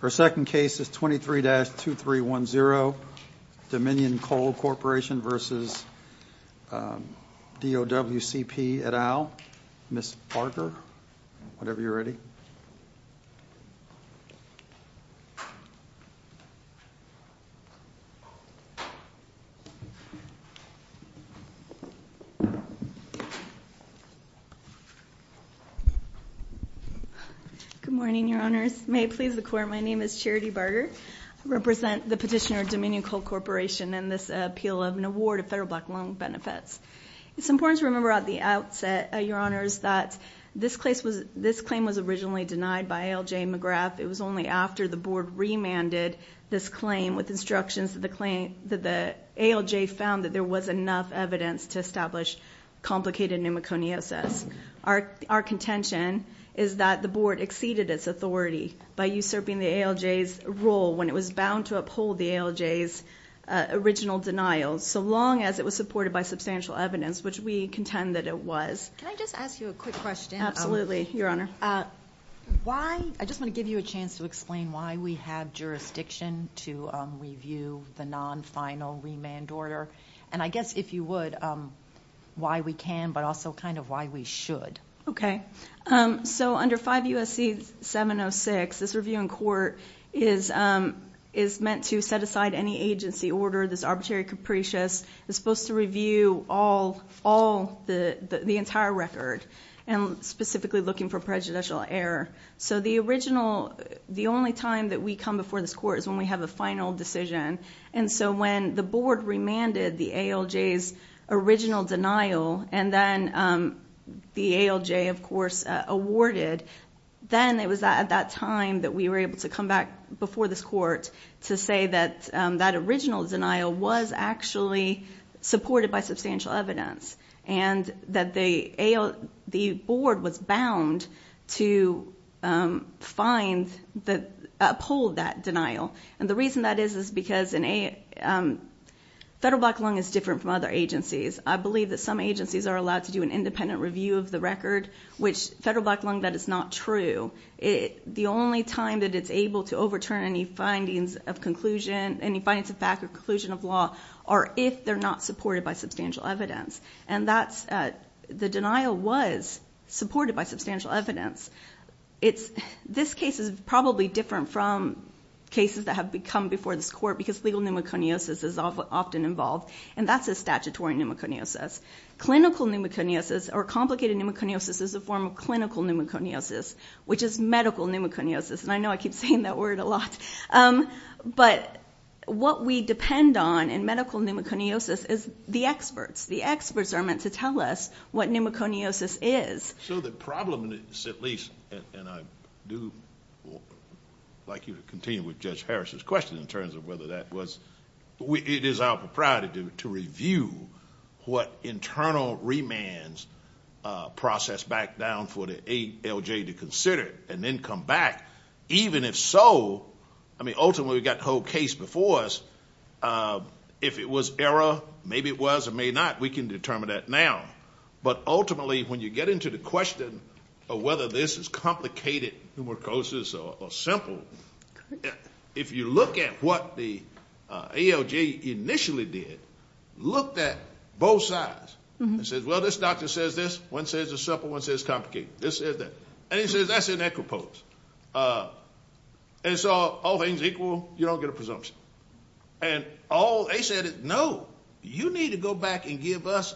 Our second case is 23-2310, Dominion Coal Corporation v. DOWCP et al. Ms. Parker, whenever you're ready. Good morning, Your Honors. May it please the Court, my name is Charity Barger. I represent the petitioner Dominion Coal Corporation and this appeal of an award of federal black loan benefits. It's important to remember at the outset, Your Honors, that this claim was originally denied by L.J. McGrath. It was only after the Board remanded this claim with instructions that the ALJ found that there was enough evidence to establish complicated pneumoconiosis. Our contention is that the Board exceeded its authority by usurping the ALJ's role when it was bound to uphold the ALJ's original denial, so long as it was supported by substantial evidence, which we contend that it was. Can I just ask you a quick question? Absolutely, Your Honor. I just want to give you a chance to explain why we have jurisdiction to review the non-final remand order, and I guess if you would, why we can, but also kind of why we should. Okay. So under 5 U.S.C. 706, this review in court is meant to set aside any agency order. This arbitrary capricious is supposed to review all the entire record, and specifically looking for prejudicial error. So the original, the only time that we come before this Court is when we have a final decision, and so when the Board remanded the ALJ's original denial, and then the ALJ, of course, awarded, then it was at that time that we were able to come back before this Court to say that that original denial was actually supported by substantial evidence, and that the Board was bound to find, uphold that denial. And the reason that is is because Federal Black Lung is different from other agencies. I believe that some agencies are allowed to do an independent review of the record, which Federal Black Lung, that is not true. The only time that it's able to overturn any findings of conclusion, any findings of fact or conclusion of law, are if they're not supported by substantial evidence, and that's, the denial was supported by substantial evidence. This case is probably different from cases that have come before this Court because legal pneumoconiosis is often involved, and that's a statutory pneumoconiosis. Clinical pneumoconiosis or complicated pneumoconiosis is a form of clinical pneumoconiosis, which is medical pneumoconiosis, and I know I keep saying that word a lot, but what we depend on in medical pneumoconiosis is the experts. The experts are meant to tell us what pneumoconiosis is. So the problem is, at least, and I do like you to continue with Judge Harris's question in terms of whether that was, it is our propriety to review what internal remands process back down for the ALJ to consider and then come back. Even if so, I mean, ultimately, we've got the whole case before us. If it was error, maybe it was or may not, we can determine that now. But ultimately, when you get into the question of whether this is complicated pneumoconiosis or simple, if you look at what the ALJ initially did, looked at both sides and said, well, this doctor says this. One says it's simple. One says it's complicated. This says that. And he says that's an equipose. And so all things equal, you don't get a presumption. And all they said is, no, you need to go back and give us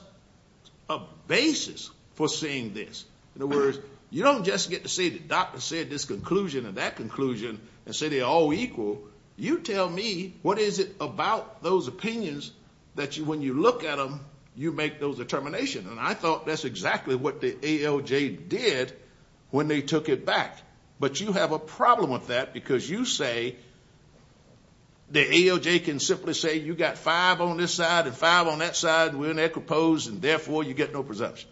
a basis for seeing this. In other words, you don't just get to say the doctor said this conclusion and that conclusion and say they're all equal. You tell me what is it about those opinions that when you look at them, you make those determinations. And I thought that's exactly what the ALJ did when they took it back. But you have a problem with that because you say the ALJ can simply say you've got five on this side and five on that side, and we're in equipose, and therefore you get no presumption.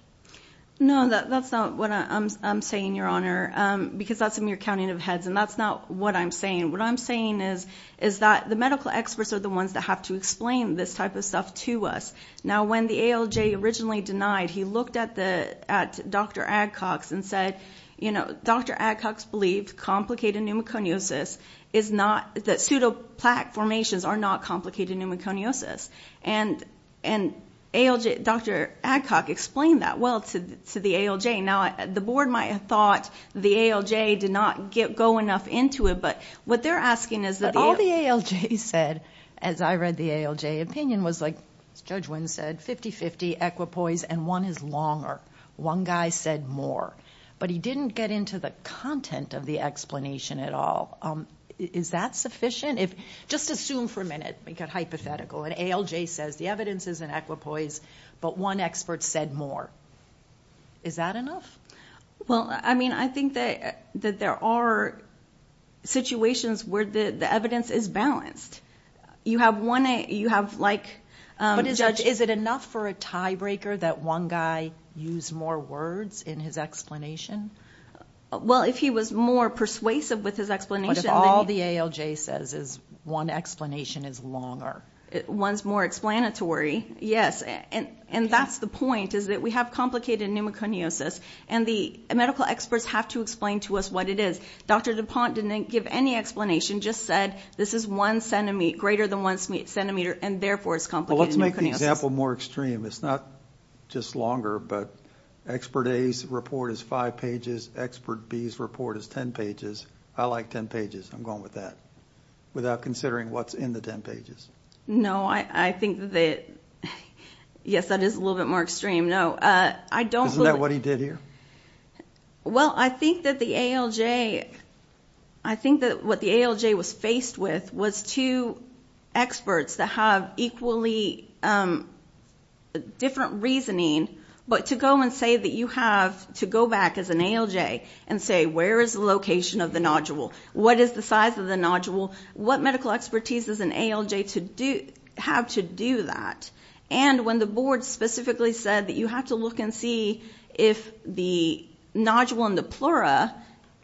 No, that's not what I'm saying, Your Honor, because that's a mere counting of heads, and that's not what I'm saying. What I'm saying is that the medical experts are the ones that have to explain this type of stuff to us. Now, when the ALJ originally denied, he looked at Dr. Adcox and said, you know, Dr. Adcox believed complicated pneumoconiosis is not, that pseudoplaque formations are not complicated pneumoconiosis. And ALJ, Dr. Adcox explained that well to the ALJ. Now, the board might have thought the ALJ did not go enough into it, but what they're asking is that the ALJ. But all the ALJ said, as I read the ALJ opinion, was like Judge Wynn said, 50-50 equipoise, and one is longer. One guy said more, but he didn't get into the content of the explanation at all. Is that sufficient? Just assume for a minute, make it hypothetical. An ALJ says the evidence is an equipoise, but one expert said more. Is that enough? Well, I mean, I think that there are situations where the evidence is balanced. You have like, Judge, is it enough for a tiebreaker that one guy used more words in his explanation? Well, if he was more persuasive with his explanation. But if all the ALJ says is one explanation is longer. One's more explanatory, yes, and that's the point, is that we have complicated pneumoconiosis, and the medical experts have to explain to us what it is. Dr. DuPont didn't give any explanation, just said this is one centimeter, greater than one centimeter, and therefore it's complicated pneumoconiosis. I'll give you an example more extreme. It's not just longer, but expert A's report is five pages, expert B's report is 10 pages. I like 10 pages. I'm going with that without considering what's in the 10 pages. No, I think that, yes, that is a little bit more extreme, no. Isn't that what he did here? Well, I think that the ALJ, I think that what the ALJ was faced with was two experts that have equally different reasoning, but to go and say that you have to go back as an ALJ and say where is the location of the nodule? What is the size of the nodule? What medical expertise does an ALJ have to do that? And when the board specifically said that you have to look and see if the nodule in the pleura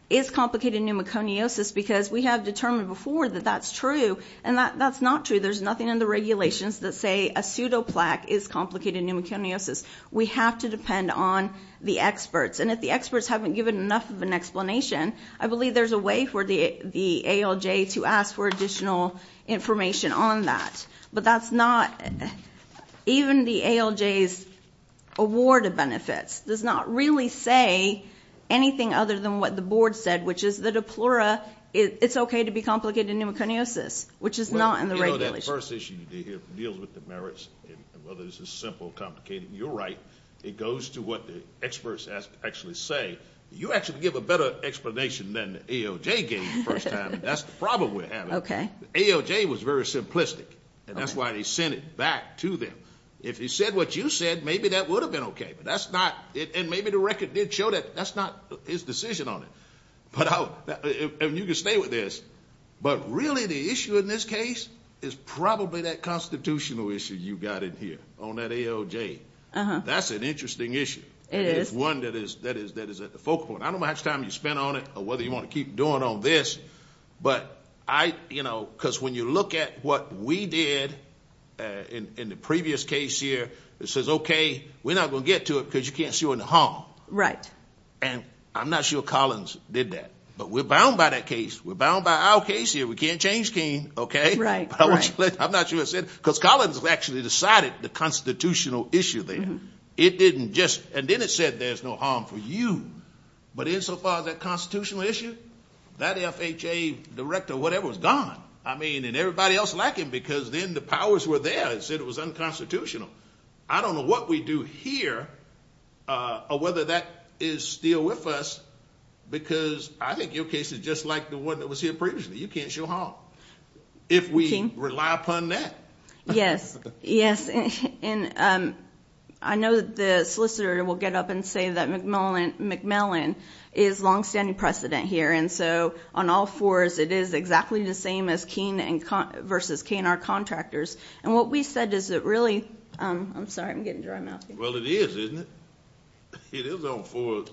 is complicated pneumoconiosis because we have determined before that that's true and that's not true. There's nothing in the regulations that say a pseudoplaque is complicated pneumoconiosis. We have to depend on the experts, and if the experts haven't given enough of an explanation, I believe there's a way for the ALJ to ask for additional information on that. But that's not, even the ALJ's award of benefits does not really say anything other than what the board said, which is that a pleura, it's okay to be complicated pneumoconiosis, which is not in the regulations. Well, you know that first issue you did here, deals with the merits, and whether this is simple, complicated. You're right. It goes to what the experts actually say. You actually give a better explanation than the ALJ gave the first time. That's the problem we're having. Okay. ALJ was very simplistic, and that's why they sent it back to them. If he said what you said, maybe that would have been okay, but that's not, and maybe the record did show that that's not his decision on it. But you can stay with this, but really the issue in this case is probably that constitutional issue you got in here on that ALJ. That's an interesting issue. It is. It is one that is at the focal point. I don't know how much time you spent on it or whether you want to keep doing on this, but I, you know, because when you look at what we did in the previous case here, it says, okay, we're not going to get to it because you can't see what the harm. Right. And I'm not sure Collins did that, but we're bound by that case. We're bound by our case here. We can't change King, okay? Right, right. I'm not sure what I said, because Collins actually decided the constitutional issue there. It didn't just, and then it said there's no harm for you, but insofar as that constitutional issue, that FHA director, whatever, was gone. I mean, and everybody else like him because then the powers were there. It said it was unconstitutional. I don't know what we do here or whether that is still with us, because I think your case is just like the one that was here previously. You can't show harm if we rely upon that. Yes, yes. I know the solicitor will get up and say that McMillan is longstanding precedent here, and so on all fours it is exactly the same as King versus K&R contractors. And what we said is that really, I'm sorry, I'm getting dry mouth here. Well, it is, isn't it? It is on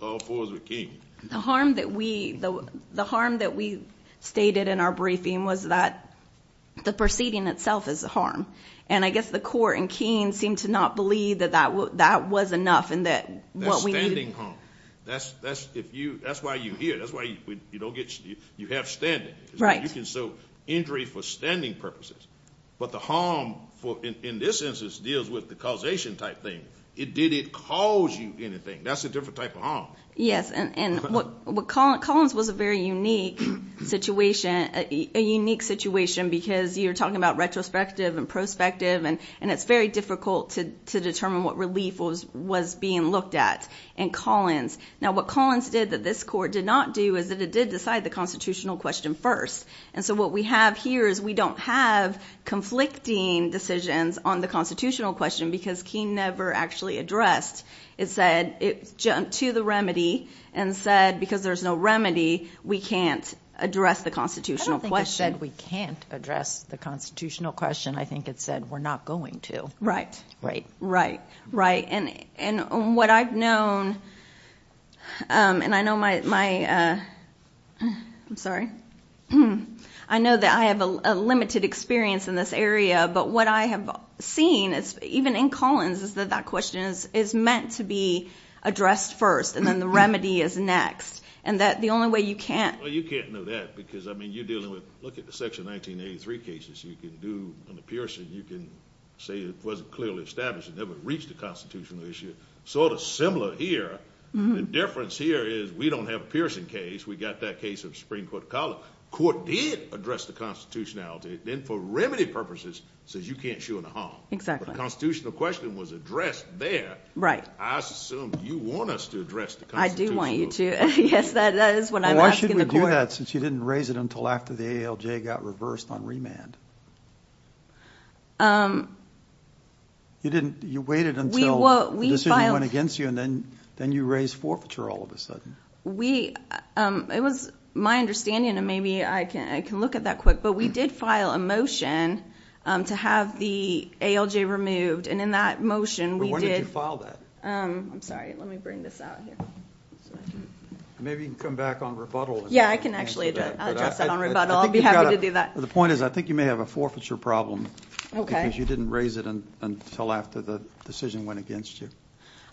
all fours with King. The harm that we stated in our briefing was that the proceeding itself is a harm. And I guess the court in King seemed to not believe that that was enough and that what we needed. That's why you're here. That's why you have standing. Right. You can show injury for standing purposes. But the harm in this instance deals with the causation type thing. It didn't cause you anything. That's a different type of harm. Yes, and Collins was a very unique situation, because you're talking about retrospective and prospective, and it's very difficult to determine what relief was being looked at in Collins. Now, what Collins did that this court did not do is that it did decide the constitutional question first. And so what we have here is we don't have conflicting decisions on the constitutional question, because King never actually addressed. It said, it jumped to the remedy and said, because there's no remedy, we can't address the constitutional question. I don't think it said we can't address the constitutional question. I think it said we're not going to. Right. Right. Right. And what I've known, and I know my, I'm sorry, I know that I have a limited experience in this area, but what I have seen, even in Collins, is that that question is meant to be addressed first, and then the remedy is next, and that the only way you can't. Well, you can't know that, because, I mean, you're dealing with, look at the Section 1983 cases. You can do an appearance, and you can say it wasn't clearly established, and that would reach the constitutional issue. Sort of similar here. The difference here is we don't have a Pearson case. We got that case of Supreme Court Collins. Court did address the constitutionality. Then for remedy purposes, it says you can't show no harm. The constitutional question was addressed there. Right. I assume you want us to address the constitutional issue. I do want you to. Yes, that is what I'm asking the court. Why should we do that, since you didn't raise it until after the ALJ got reversed on remand? You waited until the decision went against you, and then you raised forfeiture all of a sudden. It was my understanding, and maybe I can look at that quick, but we did file a motion to have the ALJ removed, and in that motion we did. When did you file that? I'm sorry. Let me bring this out here. Maybe you can come back on rebuttal. Yes, I can actually address that on rebuttal. I'll be happy to do that. The point is I think you may have a forfeiture problem, because you didn't raise it until after the decision went against you.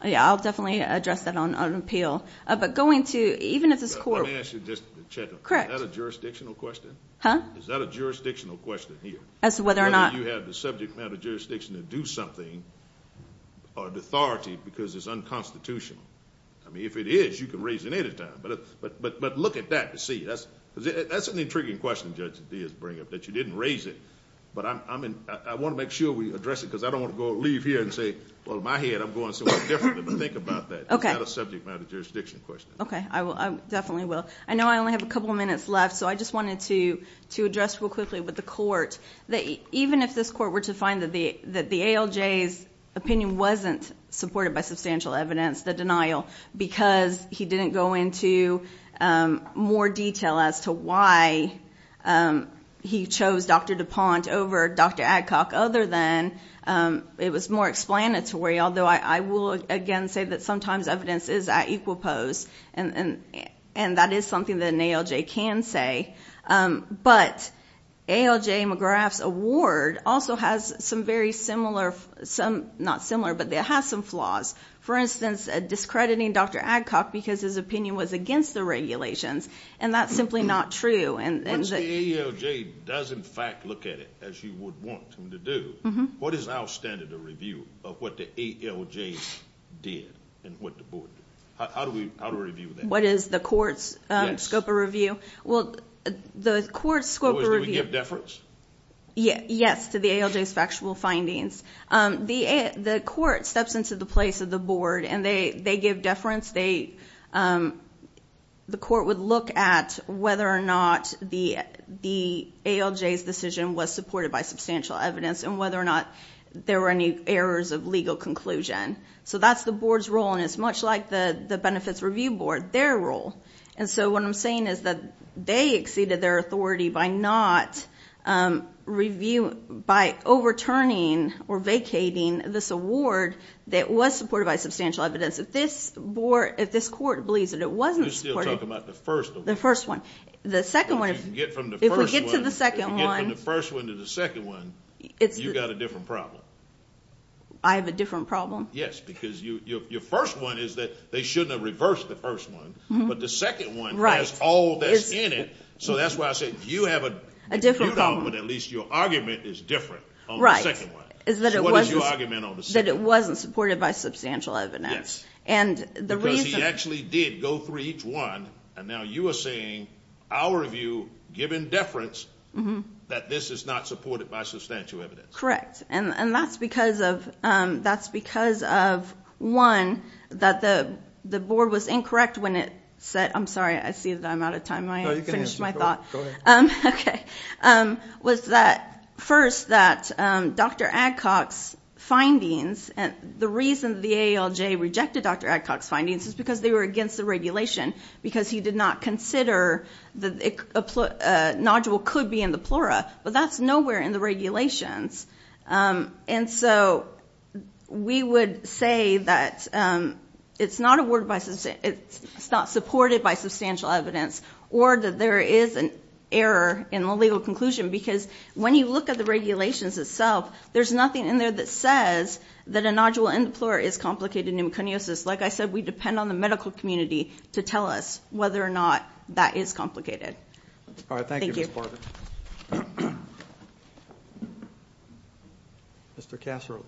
Yes, I'll definitely address that on appeal. Let me ask you just to check. Correct. Is that a jurisdictional question? Huh? Is that a jurisdictional question here? As to whether or not— Whether you have the subject matter jurisdiction to do something, or the authority, because it's unconstitutional. I mean, if it is, you can raise it at any time. But look at that to see. That's an intriguing question, Judge Diaz, to bring up, that you didn't raise it. But I want to make sure we address it, because I don't want to leave here and say, well, in my head I'm going somewhere different than I think about that. Okay. It's not a subject matter jurisdiction question. Okay. I definitely will. I know I only have a couple minutes left, so I just wanted to address real quickly with the court, that even if this court were to find that the ALJ's opinion wasn't supported by substantial evidence, the denial, because he didn't go into more detail as to why he chose Dr. DuPont over Dr. Adcock, other than it was more explanatory, although I will, again, say that sometimes evidence is at equal pose, and that is something that an ALJ can say. But ALJ McGrath's award also has some very similar—not similar, but it has some flaws. For instance, discrediting Dr. Adcock because his opinion was against the regulations, and that's simply not true. Once the ALJ does, in fact, look at it as you would want them to do, what is our standard of review of what the ALJ did and what the board did? How do we review that? What is the court's scope of review? Well, the court's scope of review— Do we give deference? Yes, to the ALJ's factual findings. The court steps into the place of the board, and they give deference. The court would look at whether or not the ALJ's decision was supported by substantial evidence and whether or not there were any errors of legal conclusion. So that's the board's role, and it's much like the Benefits Review Board, their role. And so what I'm saying is that they exceeded their authority by not reviewing—by overturning or vacating this award that was supported by substantial evidence. If this board—if this court believes that it wasn't supported— You're still talking about the first award. The first one. The second one— If we get from the first one— If we get to the second one— If we get from the first one to the second one, you've got a different problem. I have a different problem? Yes, because your first one is that they shouldn't have reversed the first one, but the second one has all this in it, so that's why I said you have a different problem. But at least your argument is different on the second one. So what is your argument on the second one? That it wasn't supported by substantial evidence. Because he actually did go through each one, and now you are saying our review, given deference, that this is not supported by substantial evidence. Correct. And that's because of—that's because of, one, that the board was incorrect when it said— I'm sorry, I see that I'm out of time. I finished my thought. Go ahead. Okay. Was that, first, that Dr. Adcock's findings— the reason the AALJ rejected Dr. Adcock's findings is because they were against the regulation, because he did not consider that a nodule could be in the plura, but that's nowhere in the regulations. And so we would say that it's not awarded by—it's not supported by substantial evidence, or that there is an error in the legal conclusion, because when you look at the regulations itself, there's nothing in there that says that a nodule in the plura is complicated pneumoconiosis. Like I said, we depend on the medical community to tell us whether or not that is complicated. All right, thank you, Ms. Barber. Thank you. Mr. Casserly.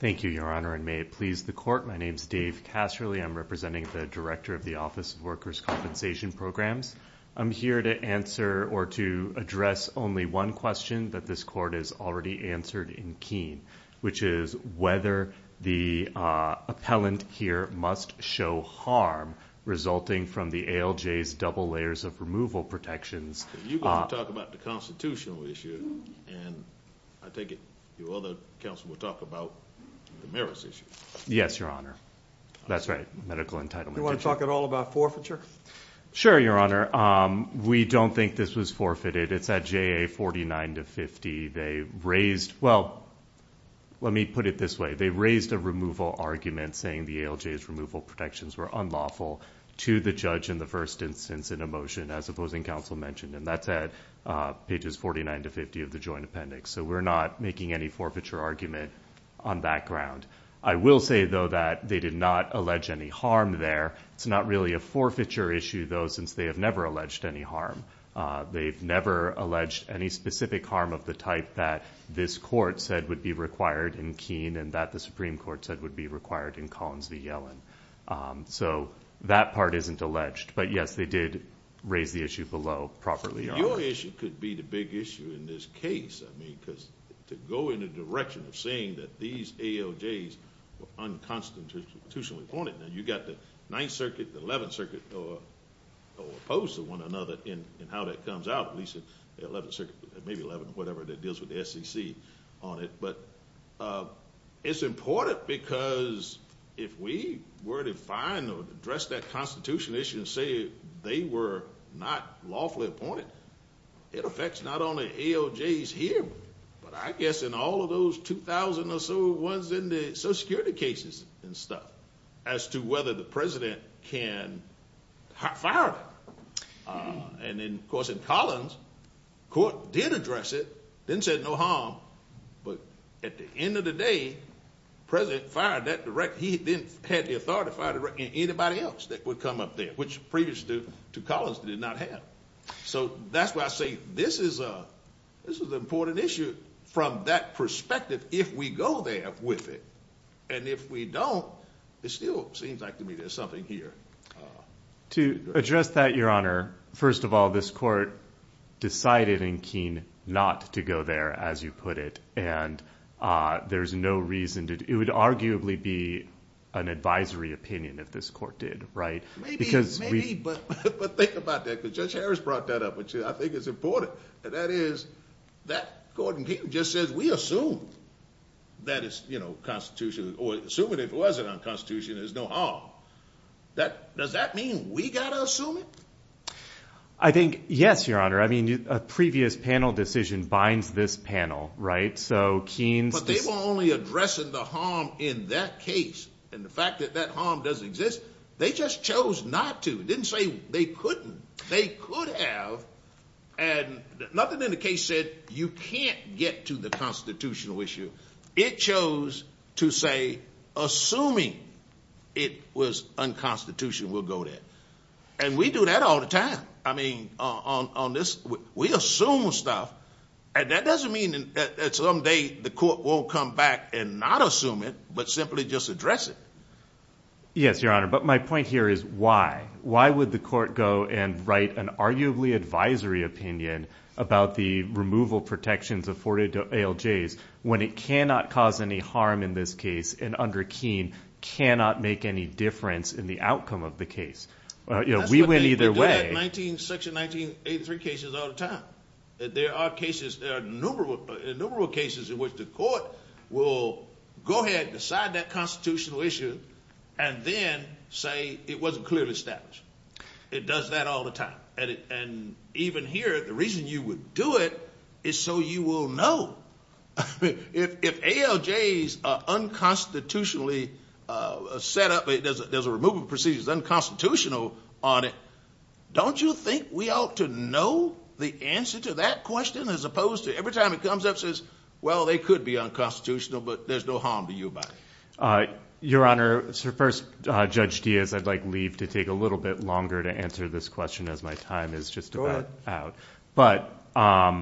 Thank you, Your Honor, and may it please the Court. My name is Dave Casserly. I'm representing the Director of the Office of Workers' Compensation Programs. I'm here to answer or to address only one question that this Court has already answered in Keene, which is whether the appellant here must show harm resulting from the ALJ's double layers of removal protections. You're going to talk about the constitutional issue, and I take it your other counsel will talk about the merits issue. Yes, Your Honor. That's right, medical entitlement. Do you want to talk at all about forfeiture? Sure, Your Honor. We don't think this was forfeited. It's at JA 49 to 50. Well, let me put it this way. They raised a removal argument saying the ALJ's removal protections were unlawful to the judge in the first instance in a motion, as opposing counsel mentioned, and that's at pages 49 to 50 of the joint appendix. So we're not making any forfeiture argument on that ground. I will say, though, that they did not allege any harm there. It's not really a forfeiture issue, though, since they have never alleged any harm. They've never alleged any specific harm of the type that this court said would be required in Keene and that the Supreme Court said would be required in Collins v. Yellen. So that part isn't alleged. But, yes, they did raise the issue below properly, Your Honor. Your issue could be the big issue in this case, I mean, because to go in the direction of saying that these ALJs were unconstitutionally appointed, and you've got the 9th Circuit, the 11th Circuit opposed to one another in how that comes out, at least the 11th Circuit, maybe 11th, whatever, that deals with the SEC on it. But it's important because if we were to find or address that constitutional issue and say they were not lawfully appointed, it affects not only ALJs here, but I guess in all of those 2,000 or so ones in the social security cases and stuff, as to whether the president can fire them. And, of course, in Collins, the court did address it, didn't say no harm, but at the end of the day, the president fired that director. He then had the authority to fire anybody else that would come up there, which previous to Collins did not have. So that's why I say this is an important issue from that perspective if we go there with it. And if we don't, it still seems like to me there's something here. To address that, Your Honor, first of all, this court decided in Keene not to go there, as you put it, and there's no reason to do it. It would arguably be an advisory opinion if this court did, right? Maybe, but think about that because Judge Harris brought that up, which I think is important. And that is that Gordon Keene just says we assume that it's constitutional, or assuming it wasn't unconstitutional, there's no harm. Does that mean we've got to assume it? I think, yes, Your Honor. I mean a previous panel decision binds this panel, right? So Keene's – But they were only addressing the harm in that case. And the fact that that harm doesn't exist, they just chose not to. They didn't say they couldn't. They could have. And nothing in the case said you can't get to the constitutional issue. It chose to say assuming it was unconstitutional, we'll go there. And we do that all the time. I mean, on this, we assume stuff. And that doesn't mean that someday the court won't come back and not assume it but simply just address it. Yes, Your Honor, but my point here is why. Why would the court go and write an arguably advisory opinion about the removal protections afforded to ALJs when it cannot cause any harm in this case and under Keene cannot make any difference in the outcome of the case? You know, we went either way. That's what they do in Section 1983 cases all the time. There are cases, there are numerable cases in which the court will go ahead and decide that constitutional issue and then say it wasn't clearly established. It does that all the time. And even here, the reason you would do it is so you will know. If ALJs are unconstitutionally set up, there's a removal procedure that's unconstitutional on it, don't you think we ought to know the answer to that question as opposed to every time it comes up and says, well, they could be unconstitutional but there's no harm to you about it? Your Honor, first, Judge Diaz, I'd like to leave to take a little bit longer to answer this question as my time is just about out. But I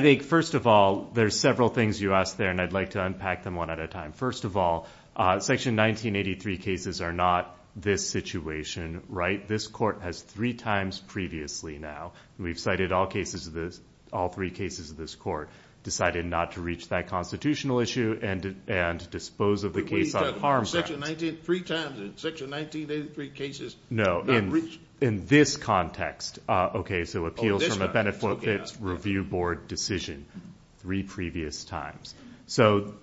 think, first of all, there's several things you asked there and I'd like to unpack them one at a time. First of all, Section 1983 cases are not this situation, right? This court has three times previously now. We've cited all cases of this, all three cases of this court, decided not to reach that constitutional issue and dispose of the case on harm's act. But we've done it three times in Section 1983 cases. No, in this context. Okay, so appeals from a benefit review board decision three previous times. So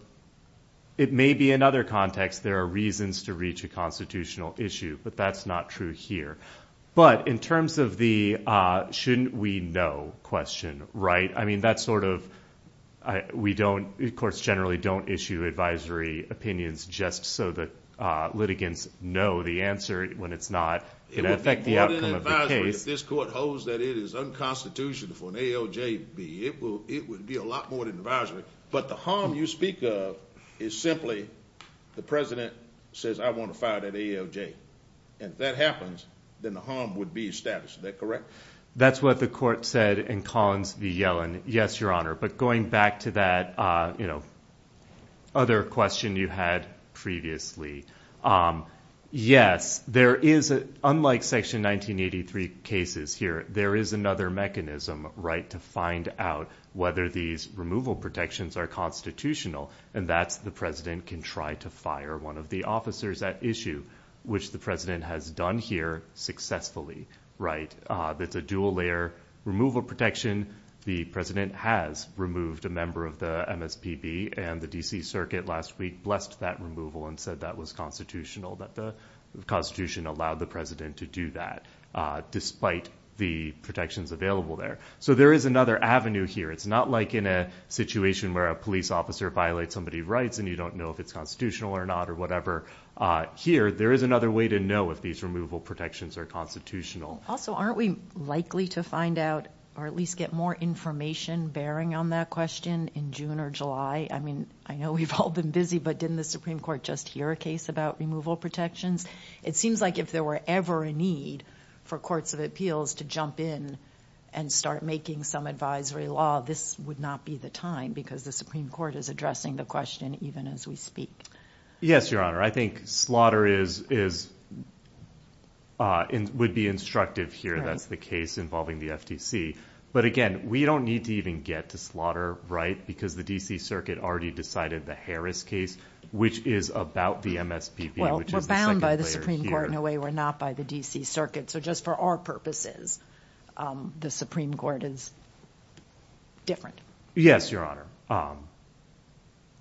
it may be another context. There are reasons to reach a constitutional issue, but that's not true here. But in terms of the shouldn't we know question, right? I mean, that's sort of, we don't, courts generally don't issue advisory opinions just so that litigants know the answer when it's not going to affect the outcome of the case. It would be more than advisory if this court holds that it is unconstitutional for an ALJB. It would be a lot more than advisory. But the harm you speak of is simply the president says, I want to fire that ALJ. And if that happens, then the harm would be established. Is that correct? That's what the court said in Collins v. Yellen. Yes, Your Honor. But going back to that, you know, other question you had previously. Yes, there is, unlike Section 1983 cases here, there is another mechanism, right, to find out whether these removal protections are constitutional, and that's the president can try to fire one of the officers at issue, which the president has done here successfully, right? It's a dual-layer removal protection. The president has removed a member of the MSPB, and the D.C. Circuit last week blessed that removal and said that was constitutional, that the Constitution allowed the president to do that, despite the protections available there. So there is another avenue here. It's not like in a situation where a police officer violates somebody's rights and you don't know if it's constitutional or not or whatever. Here, there is another way to know if these removal protections are constitutional. Also, aren't we likely to find out or at least get more information bearing on that question in June or July? I mean, I know we've all been busy, but didn't the Supreme Court just hear a case about removal protections? It seems like if there were ever a need for courts of appeals to jump in and start making some advisory law, this would not be the time because the Supreme Court is addressing the question even as we speak. Yes, Your Honor. I think slaughter would be instructive here. That's the case involving the FTC. But again, we don't need to even get to slaughter, right, because the D.C. Circuit already decided the Harris case, which is about the MSPB, which is the second player here. Well, we're bound by the Supreme Court in a way we're not by the D.C. Circuit. So just for our purposes, the Supreme Court is different. Yes, Your Honor.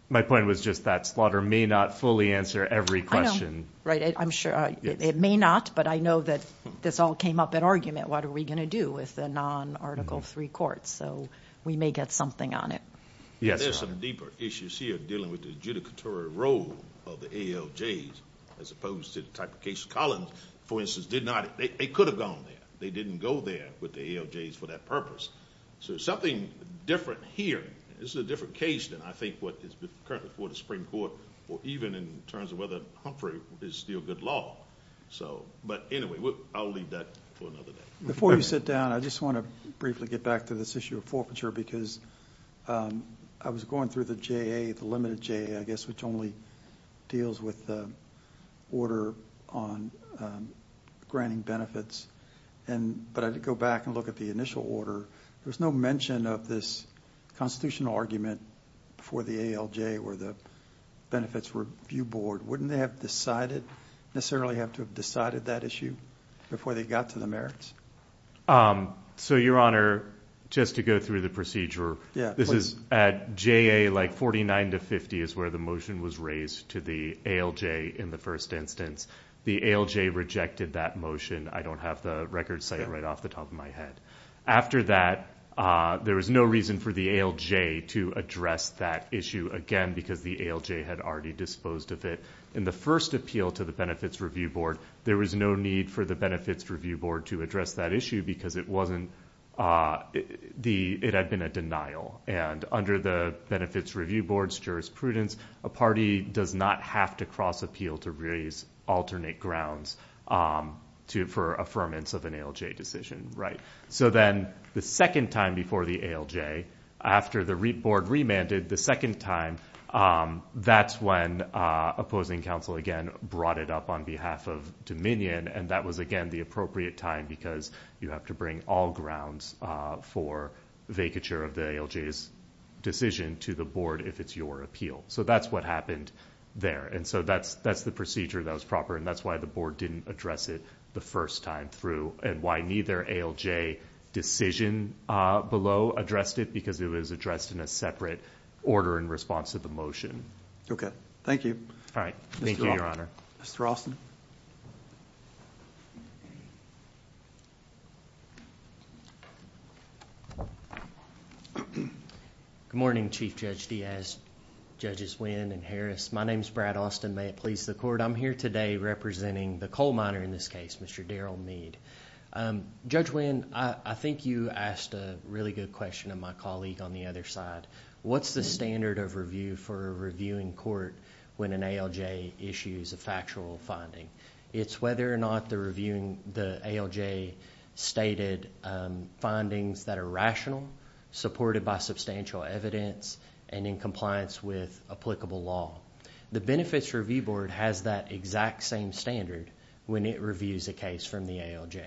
My point was just that slaughter may not fully answer every question. I know, right. I'm sure it may not, but I know that this all came up in argument. What are we going to do with the non-Article III courts? So we may get something on it. Yes, Your Honor. There's some deeper issues here dealing with the adjudicatory role of the ALJs as opposed to the type of case Collins, for instance, did not. They could have gone there. They didn't go there with the ALJs for that purpose. So there's something different here. This is a different case than I think what is currently before the Supreme Court or even in terms of whether Humphrey is still good law. But anyway, I'll leave that for another day. Before you sit down, I just want to briefly get back to this issue of forfeiture because I was going through the JA, the limited JA, I guess, which only deals with the order on granting benefits. But I did go back and look at the initial order. There was no mention of this constitutional argument for the ALJ or the Benefits Review Board. Wouldn't they necessarily have to have decided that issue before they got to the merits? So, Your Honor, just to go through the procedure, this is at JA like 49 to 50 is where the motion was raised to the ALJ in the first instance. The ALJ rejected that motion. I don't have the record site right off the top of my head. After that, there was no reason for the ALJ to address that issue again because the ALJ had already disposed of it. In the first appeal to the Benefits Review Board, there was no need for the Benefits Review Board to address that issue because it had been a denial. And under the Benefits Review Board's jurisprudence, a party does not have to cross appeal to raise alternate grounds for affirmance of an ALJ decision. So then the second time before the ALJ, after the board remanded, the second time, that's when opposing counsel again brought it up on behalf of Dominion, and that was, again, the appropriate time because you have to bring all grounds for vacature of the ALJ's decision to the board if it's your appeal. So that's what happened there. And so that's the procedure that was proper, and that's why the board didn't address it the first time through and why neither ALJ decision below addressed it because it was addressed in a separate order in response to the motion. Okay. Thank you. All right. Thank you, Your Honor. Mr. Alston. Good morning, Chief Judge Diaz, Judges Nguyen and Harris. My name is Brad Alston. May it please the Court. I'm here today representing the coal miner in this case, Mr. Daryl Mead. Judge Nguyen, I think you asked a really good question of my colleague on the other side. What's the standard of review for a reviewing court when an ALJ issues a factual finding? It's whether or not they're reviewing the ALJ-stated findings that are rational, supported by substantial evidence, and in compliance with applicable law. The Benefits Review Board has that exact same standard when it reviews a case from the ALJ.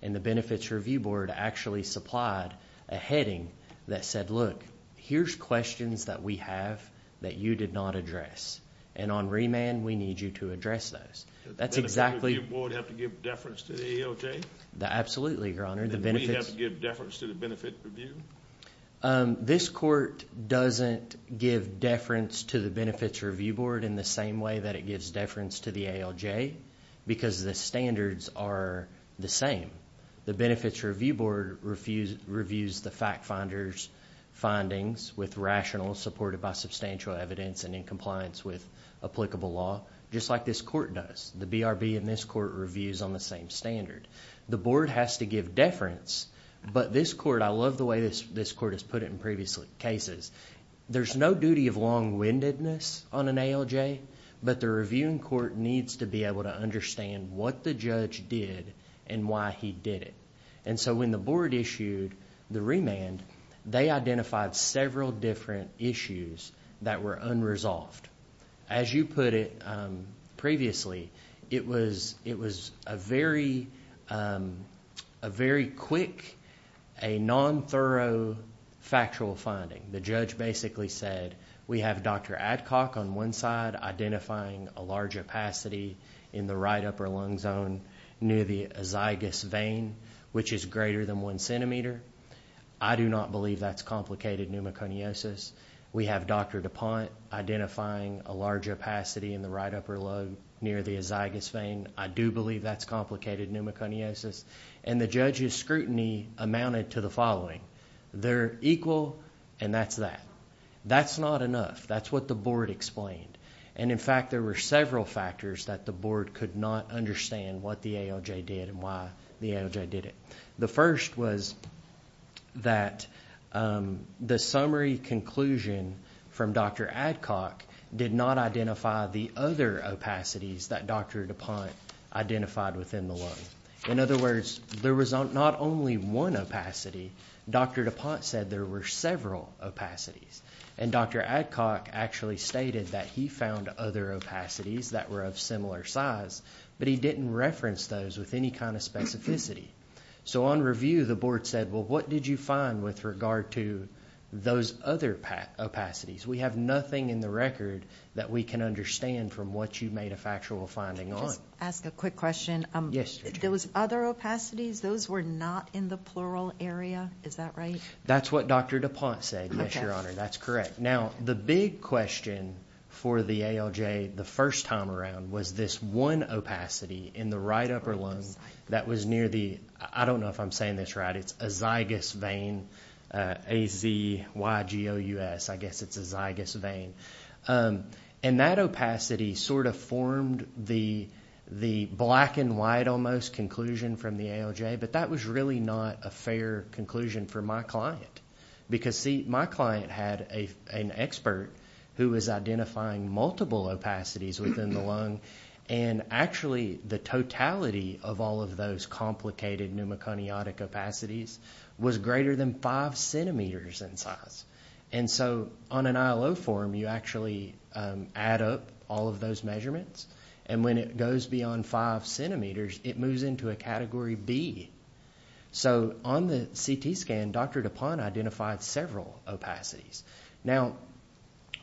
And the Benefits Review Board actually supplied a heading that said, Look, here's questions that we have that you did not address. And on remand, we need you to address those. Does the Benefits Review Board have to give deference to the ALJ? Absolutely, Your Honor. Do we have to give deference to the Benefits Review? This court doesn't give deference to the Benefits Review Board in the same way that it gives deference to the ALJ because the standards are the same. The Benefits Review Board reviews the fact finder's findings with rational, supported by substantial evidence, and in compliance with applicable law, just like this court does. The BRB in this court reviews on the same standard. The board has to give deference, but this court... I love the way this court has put it in previous cases. There's no duty of long-windedness on an ALJ, but the reviewing court needs to be able to understand what the judge did and why he did it. And so when the board issued the remand, they identified several different issues that were unresolved. As you put it previously, it was a very quick, a non-thorough factual finding. The judge basically said, we have Dr. Adcock on one side identifying a large opacity in the right upper lung zone near the azygous vein, which is greater than one centimeter. I do not believe that's complicated pneumoconiosis. We have Dr. DuPont identifying a large opacity in the right upper lung near the azygous vein. I do believe that's complicated pneumoconiosis. And the judge's scrutiny amounted to the following. They're equal, and that's that. That's not enough. That's what the board explained. And in fact, there were several factors that the board could not understand what the ALJ did and why the ALJ did it. The first was that the summary conclusion from Dr. Adcock did not identify the other opacities that Dr. DuPont identified within the lung. In other words, there was not only one opacity. Dr. DuPont said there were several opacities. And Dr. Adcock actually stated that he found other opacities that were of similar size, but he didn't reference those with any kind of specificity. So on review, the board said, well, what did you find with regard to those other opacities? We have nothing in the record that we can understand from what you made a factual finding on. Can I just ask a quick question? Yes. Those other opacities, those were not in the plural area. Is that right? That's what Dr. DuPont said, yes, Your Honor. That's correct. Now the big question for the ALJ the first time around was this one opacity in the right upper lung that was near the, I don't know if I'm saying this right, it's a zygous vein, A-Z-Y-G-O-U-S, I guess it's a zygous vein. And that opacity sort of formed the black and white almost conclusion from the ALJ, but that was really not a fair conclusion for my client because see, my client had an expert who was identifying multiple opacities within the lung and actually the totality of all of those complicated pneumoconiotic opacities was greater than five centimeters in size. And so on an ILO form, you actually add up all of those measurements and when it goes beyond five centimeters, it moves into a category B. So on the CT scan, Dr. DuPont identified several opacities. Now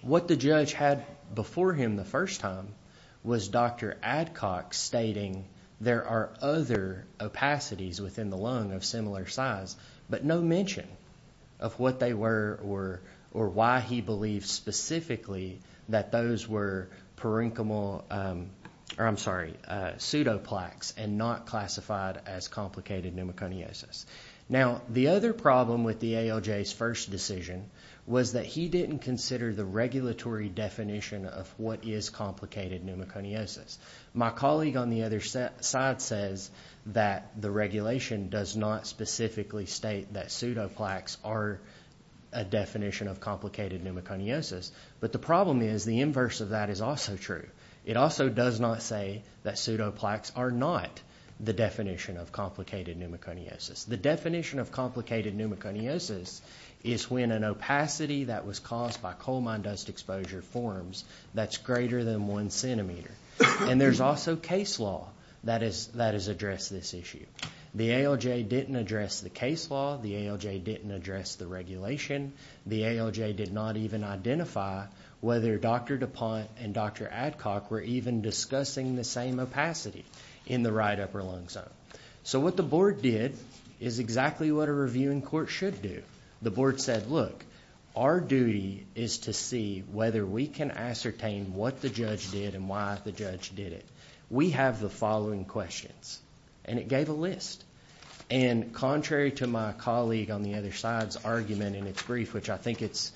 what the judge had before him the first time was Dr. Adcock stating there are other opacities within the lung of similar size, but no mention of what they were or why he believed specifically that those were parenchymal, or I'm sorry, pseudoplaques and not classified as complicated pneumoconiosis. Now the other problem with the ALJ's first decision was that he didn't consider the regulatory definition of what is complicated pneumoconiosis. My colleague on the other side says that the regulation does not specifically state that pseudoplaques are a definition of complicated pneumoconiosis, but the problem is the inverse of that is also true. It also does not say that pseudoplaques are not the definition of complicated pneumoconiosis. The definition of complicated pneumoconiosis is when an opacity that was caused by coal mine dust exposure forms that's greater than one centimeter. And there's also case law that has addressed this issue. The ALJ didn't address the case law. The ALJ didn't address the regulation. The ALJ did not even identify whether Dr. DuPont and Dr. Adcock were even discussing the same opacity in the right upper lung zone. So what the board did is exactly what a review in court should do. The board said, look, our duty is to see whether we can ascertain what the judge did and why the judge did it. We have the following questions. And it gave a list. And contrary to my colleague on the other side's argument in its brief, which I think it's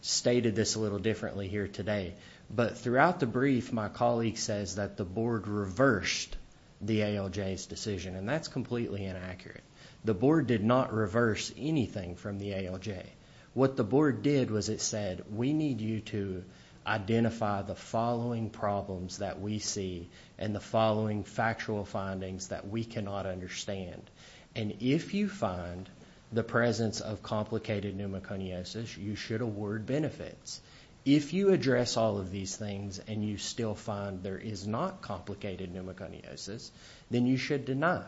stated a little differently here today, but throughout the brief, my colleague says that the board reversed the ALJ's decision. And that's completely inaccurate. The board did not reverse anything from the ALJ. What the board did was it said, we need you to identify the following problems that we see and the following factual findings that we cannot understand. And if you find the presence of complicated pneumoconiosis, you should award benefits. If you address all of these things and you still find there is not complicated pneumoconiosis, then you should deny.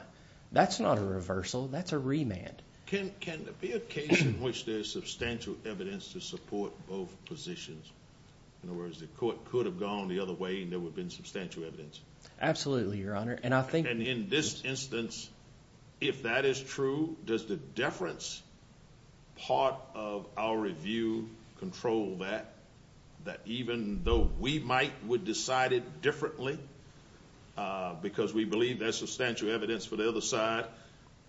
That's not a reversal. That's a remand. Can there be a case in which there is substantial evidence to support both positions? In other words, the court could have gone the other way and there would have been substantial evidence. Absolutely, Your Honor. And I think... And in this instance, if that is true, does the deference part of our review control that, that even though we might have decided differently because we believe there's substantial evidence for the other side,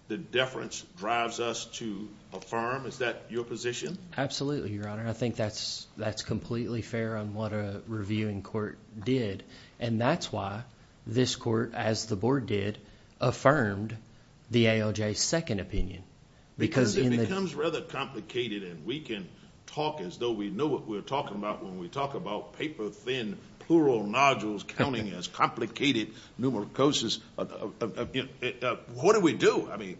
the deference drives us to affirm? Is that your position? Absolutely, Your Honor. I think that's completely fair on what a reviewing court did. And that's why this court, as the board did, affirmed the ALJ's second opinion. Because it becomes rather complicated and we can talk as though we know what we're talking about when we talk about paper-thin plural nodules counting as complicated pneumoconiosis. What do we do? I mean,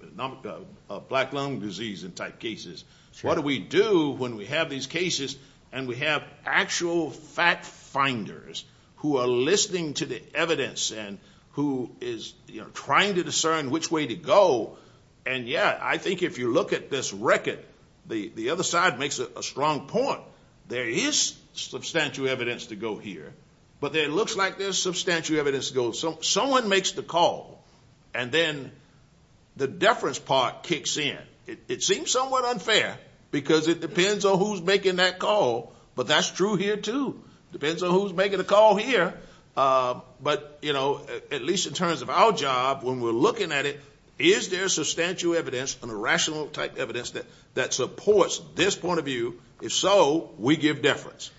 black lung disease and type cases. What do we do when we have these cases and we have actual fact-finders who are listening to the evidence and who is trying to discern which way to go? And, yeah, I think if you look at this record, the other side makes a strong point. There is substantial evidence to go here. But it looks like there's substantial evidence to go... Someone makes the call. And then the deference part kicks in. It seems somewhat unfair because it depends on who's making that call. But that's true here, too. Depends on who's making the call here. But, you know, at least in terms of our job, when we're looking at it, is there substantial evidence, an irrational type of evidence, that supports this point of view? If so, we give deference.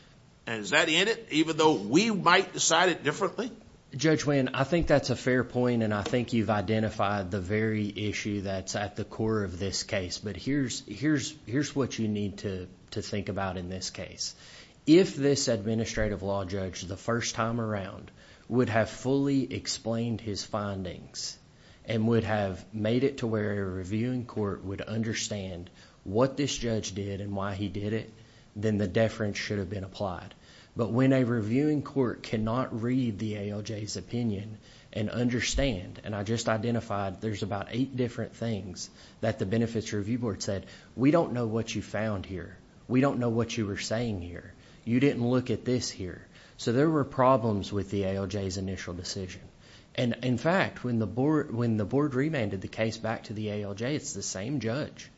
And is that in it, even though we might decide it differently? Judge Winn, I think that's a fair point, and I think you've identified the very issue that's at the core of this case. But here's what you need to think about in this case. If this administrative law judge, the first time around, would have fully explained his findings and would have made it to where a reviewing court would understand what this judge did and why he did it, then the deference should have been applied. But when a reviewing court cannot read the ALJ's opinion and understand, and I just identified there's about eight different things that the Benefits Review Board said, we don't know what you found here. We don't know what you were saying here. You didn't look at this here. So there were problems with the ALJ's initial decision. And in fact, when the board remanded the case back to the ALJ, it's the same judge.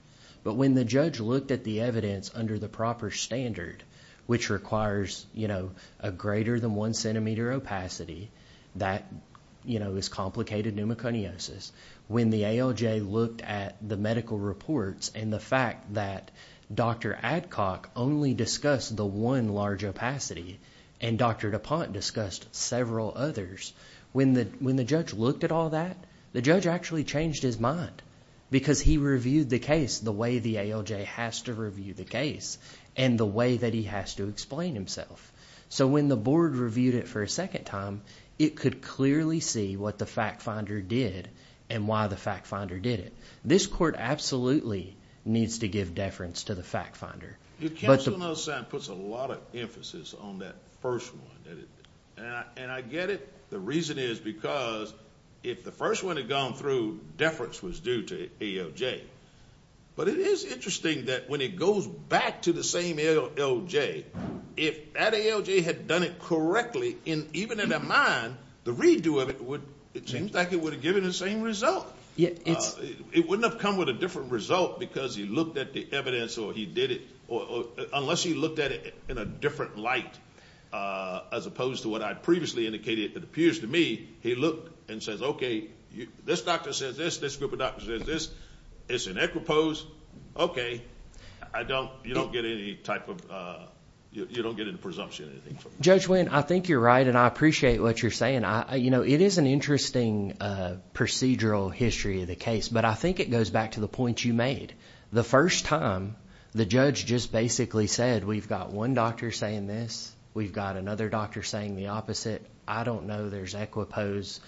But when the judge looked at the evidence under the proper standard, which requires a greater than one centimeter opacity, that is complicated pneumoconiosis. When the ALJ looked at the medical reports and the fact that Dr. Adcock only discussed the one large opacity and Dr. DuPont discussed several others, when the judge looked at all that, the judge actually changed his mind because he reviewed the case the way the ALJ has to review the case and the way that he has to explain himself. So when the board reviewed it for a second time, it could clearly see what the fact finder did and why the fact finder did it. This court absolutely needs to give deference to the fact finder. The counsel note sign puts a lot of emphasis on that first one. And I get it. The reason is because if the first one had gone through, deference was due to ALJ. But it is interesting that when it goes back to the same ALJ, if that ALJ had done it correctly, even in their mind, the redo of it seems like it would have given the same result. It wouldn't have come with a different result because he looked at the evidence or he did it. Unless he looked at it in a different light as opposed to what I previously indicated, it appears to me, he looked and says, okay, this doctor says this, this group of doctors says this. It's an equipose. Okay, you don't get any type of presumption. Judge Wynn, I think you're right, and I appreciate what you're saying. It is an interesting procedural history of the case, but I think it goes back to the point you made. The first time, the judge just basically said, we've got one doctor saying this. We've got another doctor saying the opposite. I don't know there's equipose.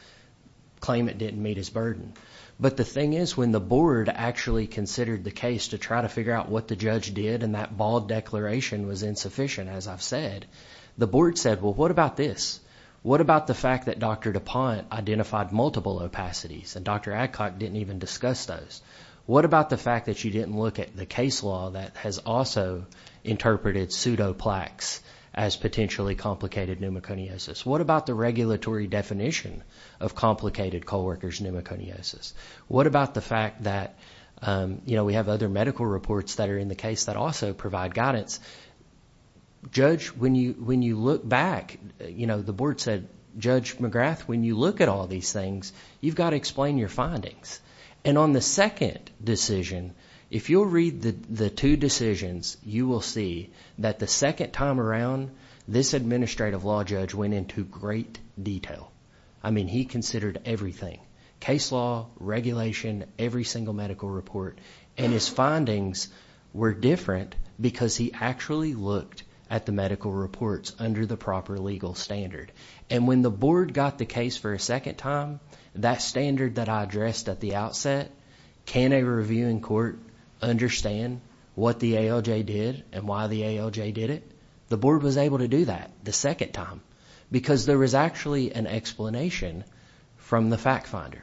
Claim it didn't meet his burden. But the thing is, when the board actually considered the case to try to figure out what the judge did and that bald declaration was insufficient, as I've said, the board said, well, what about this? What about the fact that Dr. DuPont identified multiple opacities and Dr. Adcock didn't even discuss those? What about the fact that you didn't look at the case law that has also interpreted pseudoplaques as potentially complicated pneumoconiosis? What about the regulatory definition of complicated co-workers' pneumoconiosis? What about the fact that we have other medical reports that are in the case that also provide guidance? Judge, when you look back, the board said, Judge McGrath, when you look at all these things, you've got to explain your findings. And on the second decision, if you'll read the two decisions, you will see that the second time around this administrative law judge went into great detail. I mean, he considered everything. Case law, regulation, every single medical report. And his findings were different because he actually looked at the medical reports under the proper legal standard. And when the board got the case for a second time, that standard that I addressed at the outset, can a reviewing court understand what the ALJ did and why the ALJ did it? The board was able to do that the second time because there was actually an explanation from the fact finder.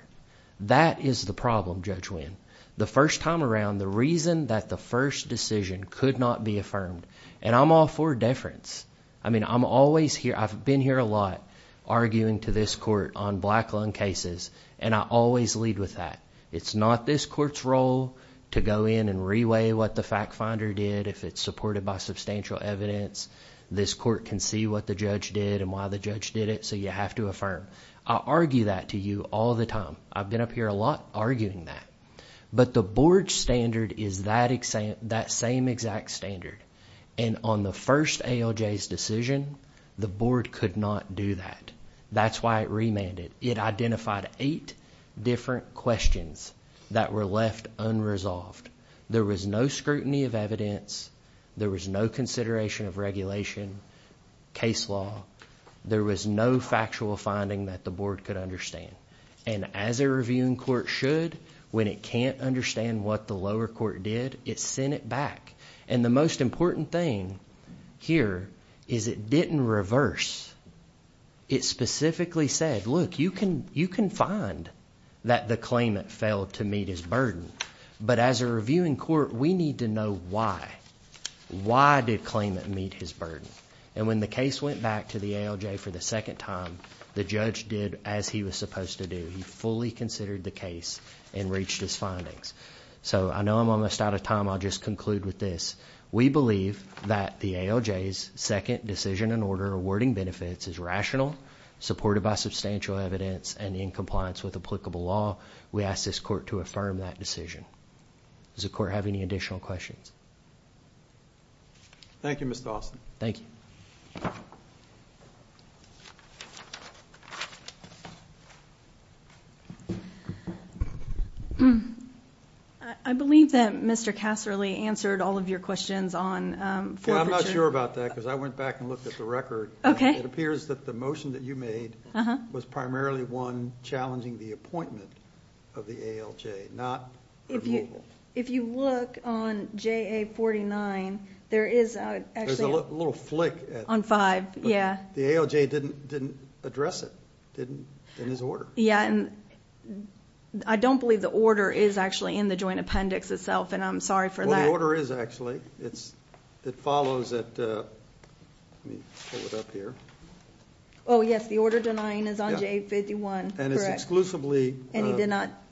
That is the problem, Judge Winn. The first time around, the reason that the first decision could not be affirmed, and I'm all for deference. I mean, I'm always here. I've been here a lot arguing to this court on black lung cases, and I always lead with that. It's not this court's role to go in and reweigh what the fact finder did. If it's supported by substantial evidence, this court can see what the judge did and why the judge did it, so you have to affirm. I argue that to you all the time. I've been up here a lot arguing that. But the board standard is that same exact standard. And on the first ALJ's decision, the board could not do that. That's why it remanded. It identified eight different questions that were left unresolved. There was no scrutiny of evidence. There was no consideration of regulation, case law. There was no factual finding that the board could understand. And as a reviewing court should, when it can't understand what the lower court did, it sent it back. And the most important thing here is it didn't reverse. It specifically said, look, you can find that the claimant failed to meet his burden. But as a reviewing court, we need to know why. Why did the claimant meet his burden? And when the case went back to the ALJ for the second time, the judge did as he was supposed to do. He fully considered the case and reached his findings. So I know I'm almost out of time. I'll just conclude with this. We believe that the ALJ's second decision in order to awarding benefits is rational, supported by substantial evidence, and in compliance with applicable law. We ask this court to affirm that decision. Does the court have any additional questions? Thank you, Mr. Austin. Thank you. I believe that Mr. Casserly answered all of your questions on forfeiture. I'm not sure about that because I went back and looked at the record. It appears that the motion that you made was primarily one challenging the appointment of the ALJ, not removal. If you look on JA 49, there is actually a little flick. On five, yeah. The ALJ didn't address it in his order. Yeah, and I don't believe the order is actually in the joint appendix itself, and I'm sorry for that. Well, the order is actually. It follows that, let me pull it up here. Oh, yes, the order denying is on JA 51, correct. And it's exclusively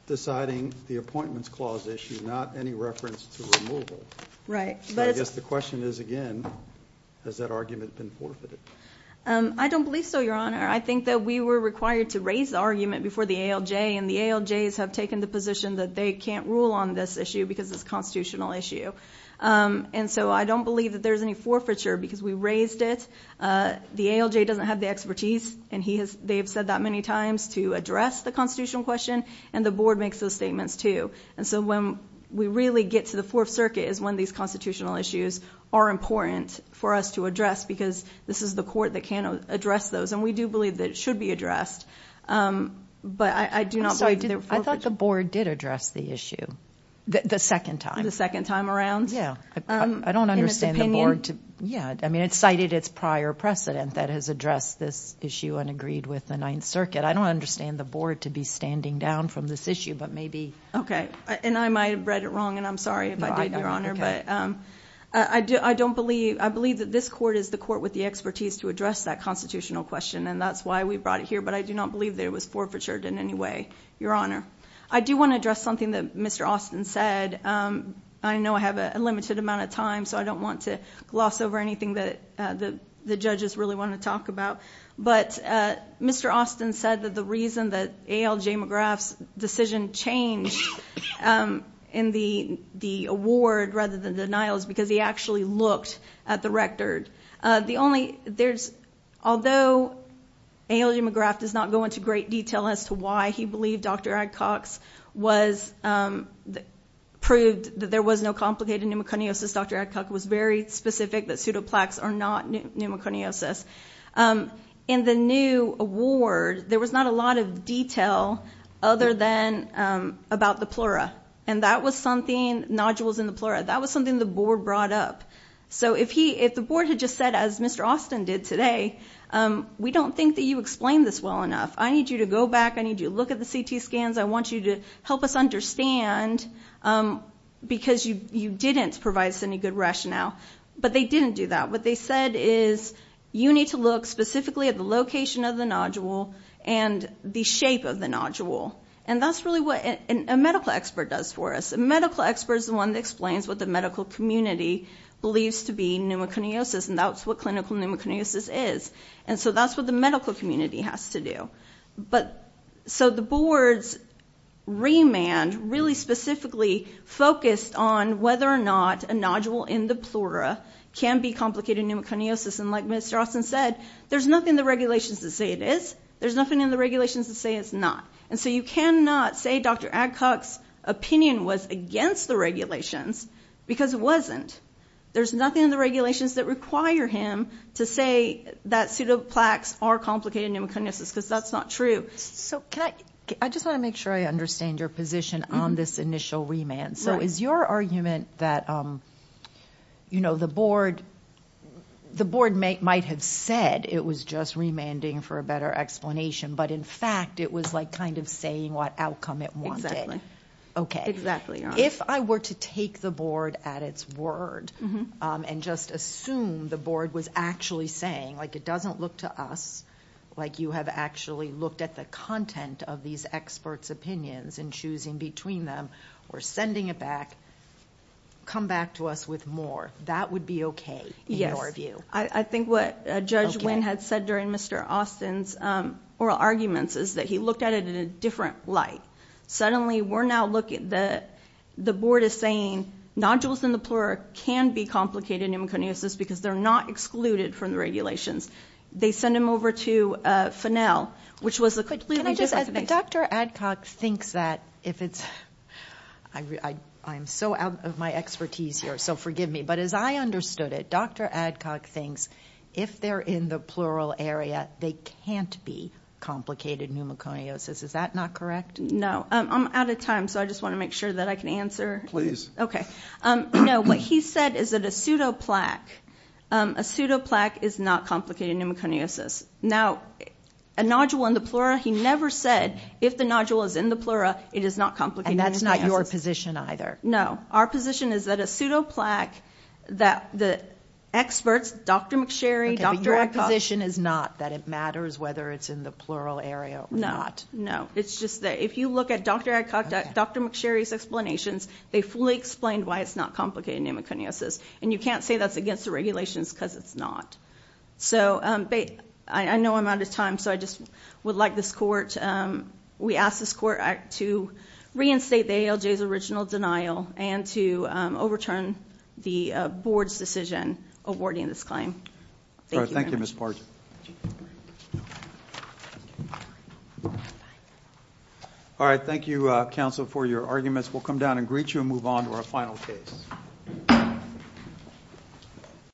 deciding the appointments clause issue, not any reference to removal. Right. I guess the question is, again, has that argument been forfeited? I don't believe so, Your Honor. I think that we were required to raise the argument before the ALJ, and the ALJs have taken the position that they can't rule on this issue and so I don't believe that there's any forfeiture because we raised it. The ALJ doesn't have the expertise, and they have said that many times to address the constitutional question, and the board makes those statements, too. And so when we really get to the Fourth Circuit is when these constitutional issues are important for us to address because this is the court that can address those, and we do believe that it should be addressed. I'm sorry. I thought the board did address the issue the second time. The second time around? I don't understand the board. In its opinion? I mean, it cited its prior precedent that has addressed this issue and agreed with the Ninth Circuit. I don't understand the board to be standing down from this issue, but maybe. Okay. And I might have read it wrong, and I'm sorry if I did, Your Honor. Okay. I believe that this court is the court with the expertise to address that constitutional question, and that's why we brought it here, but I do not believe that it was forfeited in any way, Your Honor. I do want to address something that Mr. Austin said. I know I have a limited amount of time, so I don't want to gloss over anything that the judges really want to talk about. But Mr. Austin said that the reason that A.L. J. McGrath's decision changed in the award rather than the denial is because he actually looked at the rector. Although A.L. J. McGrath does not go into great detail as to why he believed Dr. Adcock's was proved that there was no complicated pneumoconiosis. Dr. Adcock was very specific that pseudoplaques are not pneumoconiosis. In the new award, there was not a lot of detail other than about the plura, and that was something, nodules in the plura, that was something the board brought up. So if the board had just said, as Mr. Austin did today, we don't think that you explained this well enough. I need you to go back. I need you to look at the CT scans. I want you to help us understand because you didn't provide us any good rationale. But they didn't do that. What they said is you need to look specifically at the location of the nodule and the shape of the nodule. And that's really what a medical expert does for us. A medical expert is the one that explains what the medical community believes to be pneumoconiosis, and that's what clinical pneumoconiosis is. And so that's what the medical community has to do. So the board's remand really specifically focused on whether or not a nodule in the plura can be complicated pneumoconiosis. And like Mr. Austin said, there's nothing in the regulations to say it is. There's nothing in the regulations to say it's not. And so you cannot say Dr. Adcock's opinion was against the regulations because it wasn't. There's nothing in the regulations that require him to say that pseudoplaques are complicated pneumoconiosis because that's not true. I just want to make sure I understand your position on this initial remand. So is your argument that, you know, the board might have said it was just remanding for a better explanation, but, in fact, it was like kind of saying what outcome it wanted? Okay. If I were to take the board at its word and just assume the board was actually saying, like, it doesn't look to us like you have actually looked at the content of these experts' opinions and choosing between them or sending it back, come back to us with more, that would be okay in your view? I think what Judge Wynn had said during Mr. Austin's oral arguments is that he looked at it in a different light. Suddenly we're now looking at the board as saying nodules in the plura can be excluded from the regulations. They send them over to Fennel, which was the quickly re-definition. Can I just add that Dr. Adcock thinks that if it's, I'm so out of my expertise here, so forgive me, but as I understood it, Dr. Adcock thinks if they're in the plural area, they can't be complicated pneumoconiosis. Is that not correct? No. I'm out of time, so I just want to make sure that I can answer. Please. Okay. No, what he said is that a pseudoplaque is not complicated pneumoconiosis. Now, a nodule in the plura, he never said if the nodule is in the plura, it is not complicated pneumoconiosis. And that's not your position either? No. Our position is that a pseudoplaque, that the experts, Dr. McSherry, Dr. Adcock- Okay, but your position is not that it matters whether it's in the plural area or not? No, no. It's just that if you look at Dr. Adcock, Dr. McSherry's explanations, they fully explained why it's not complicated pneumoconiosis. And you can't say that's against the regulations because it's not. So, I know I'm out of time, so I just would like this court, we ask this court to reinstate the ALJ's original denial and to overturn the board's decision awarding this claim. Thank you very much. Thank you, Ms. Partridge. All right. Thank you, counsel, for your arguments. We'll come down and greet you and move on to our final case.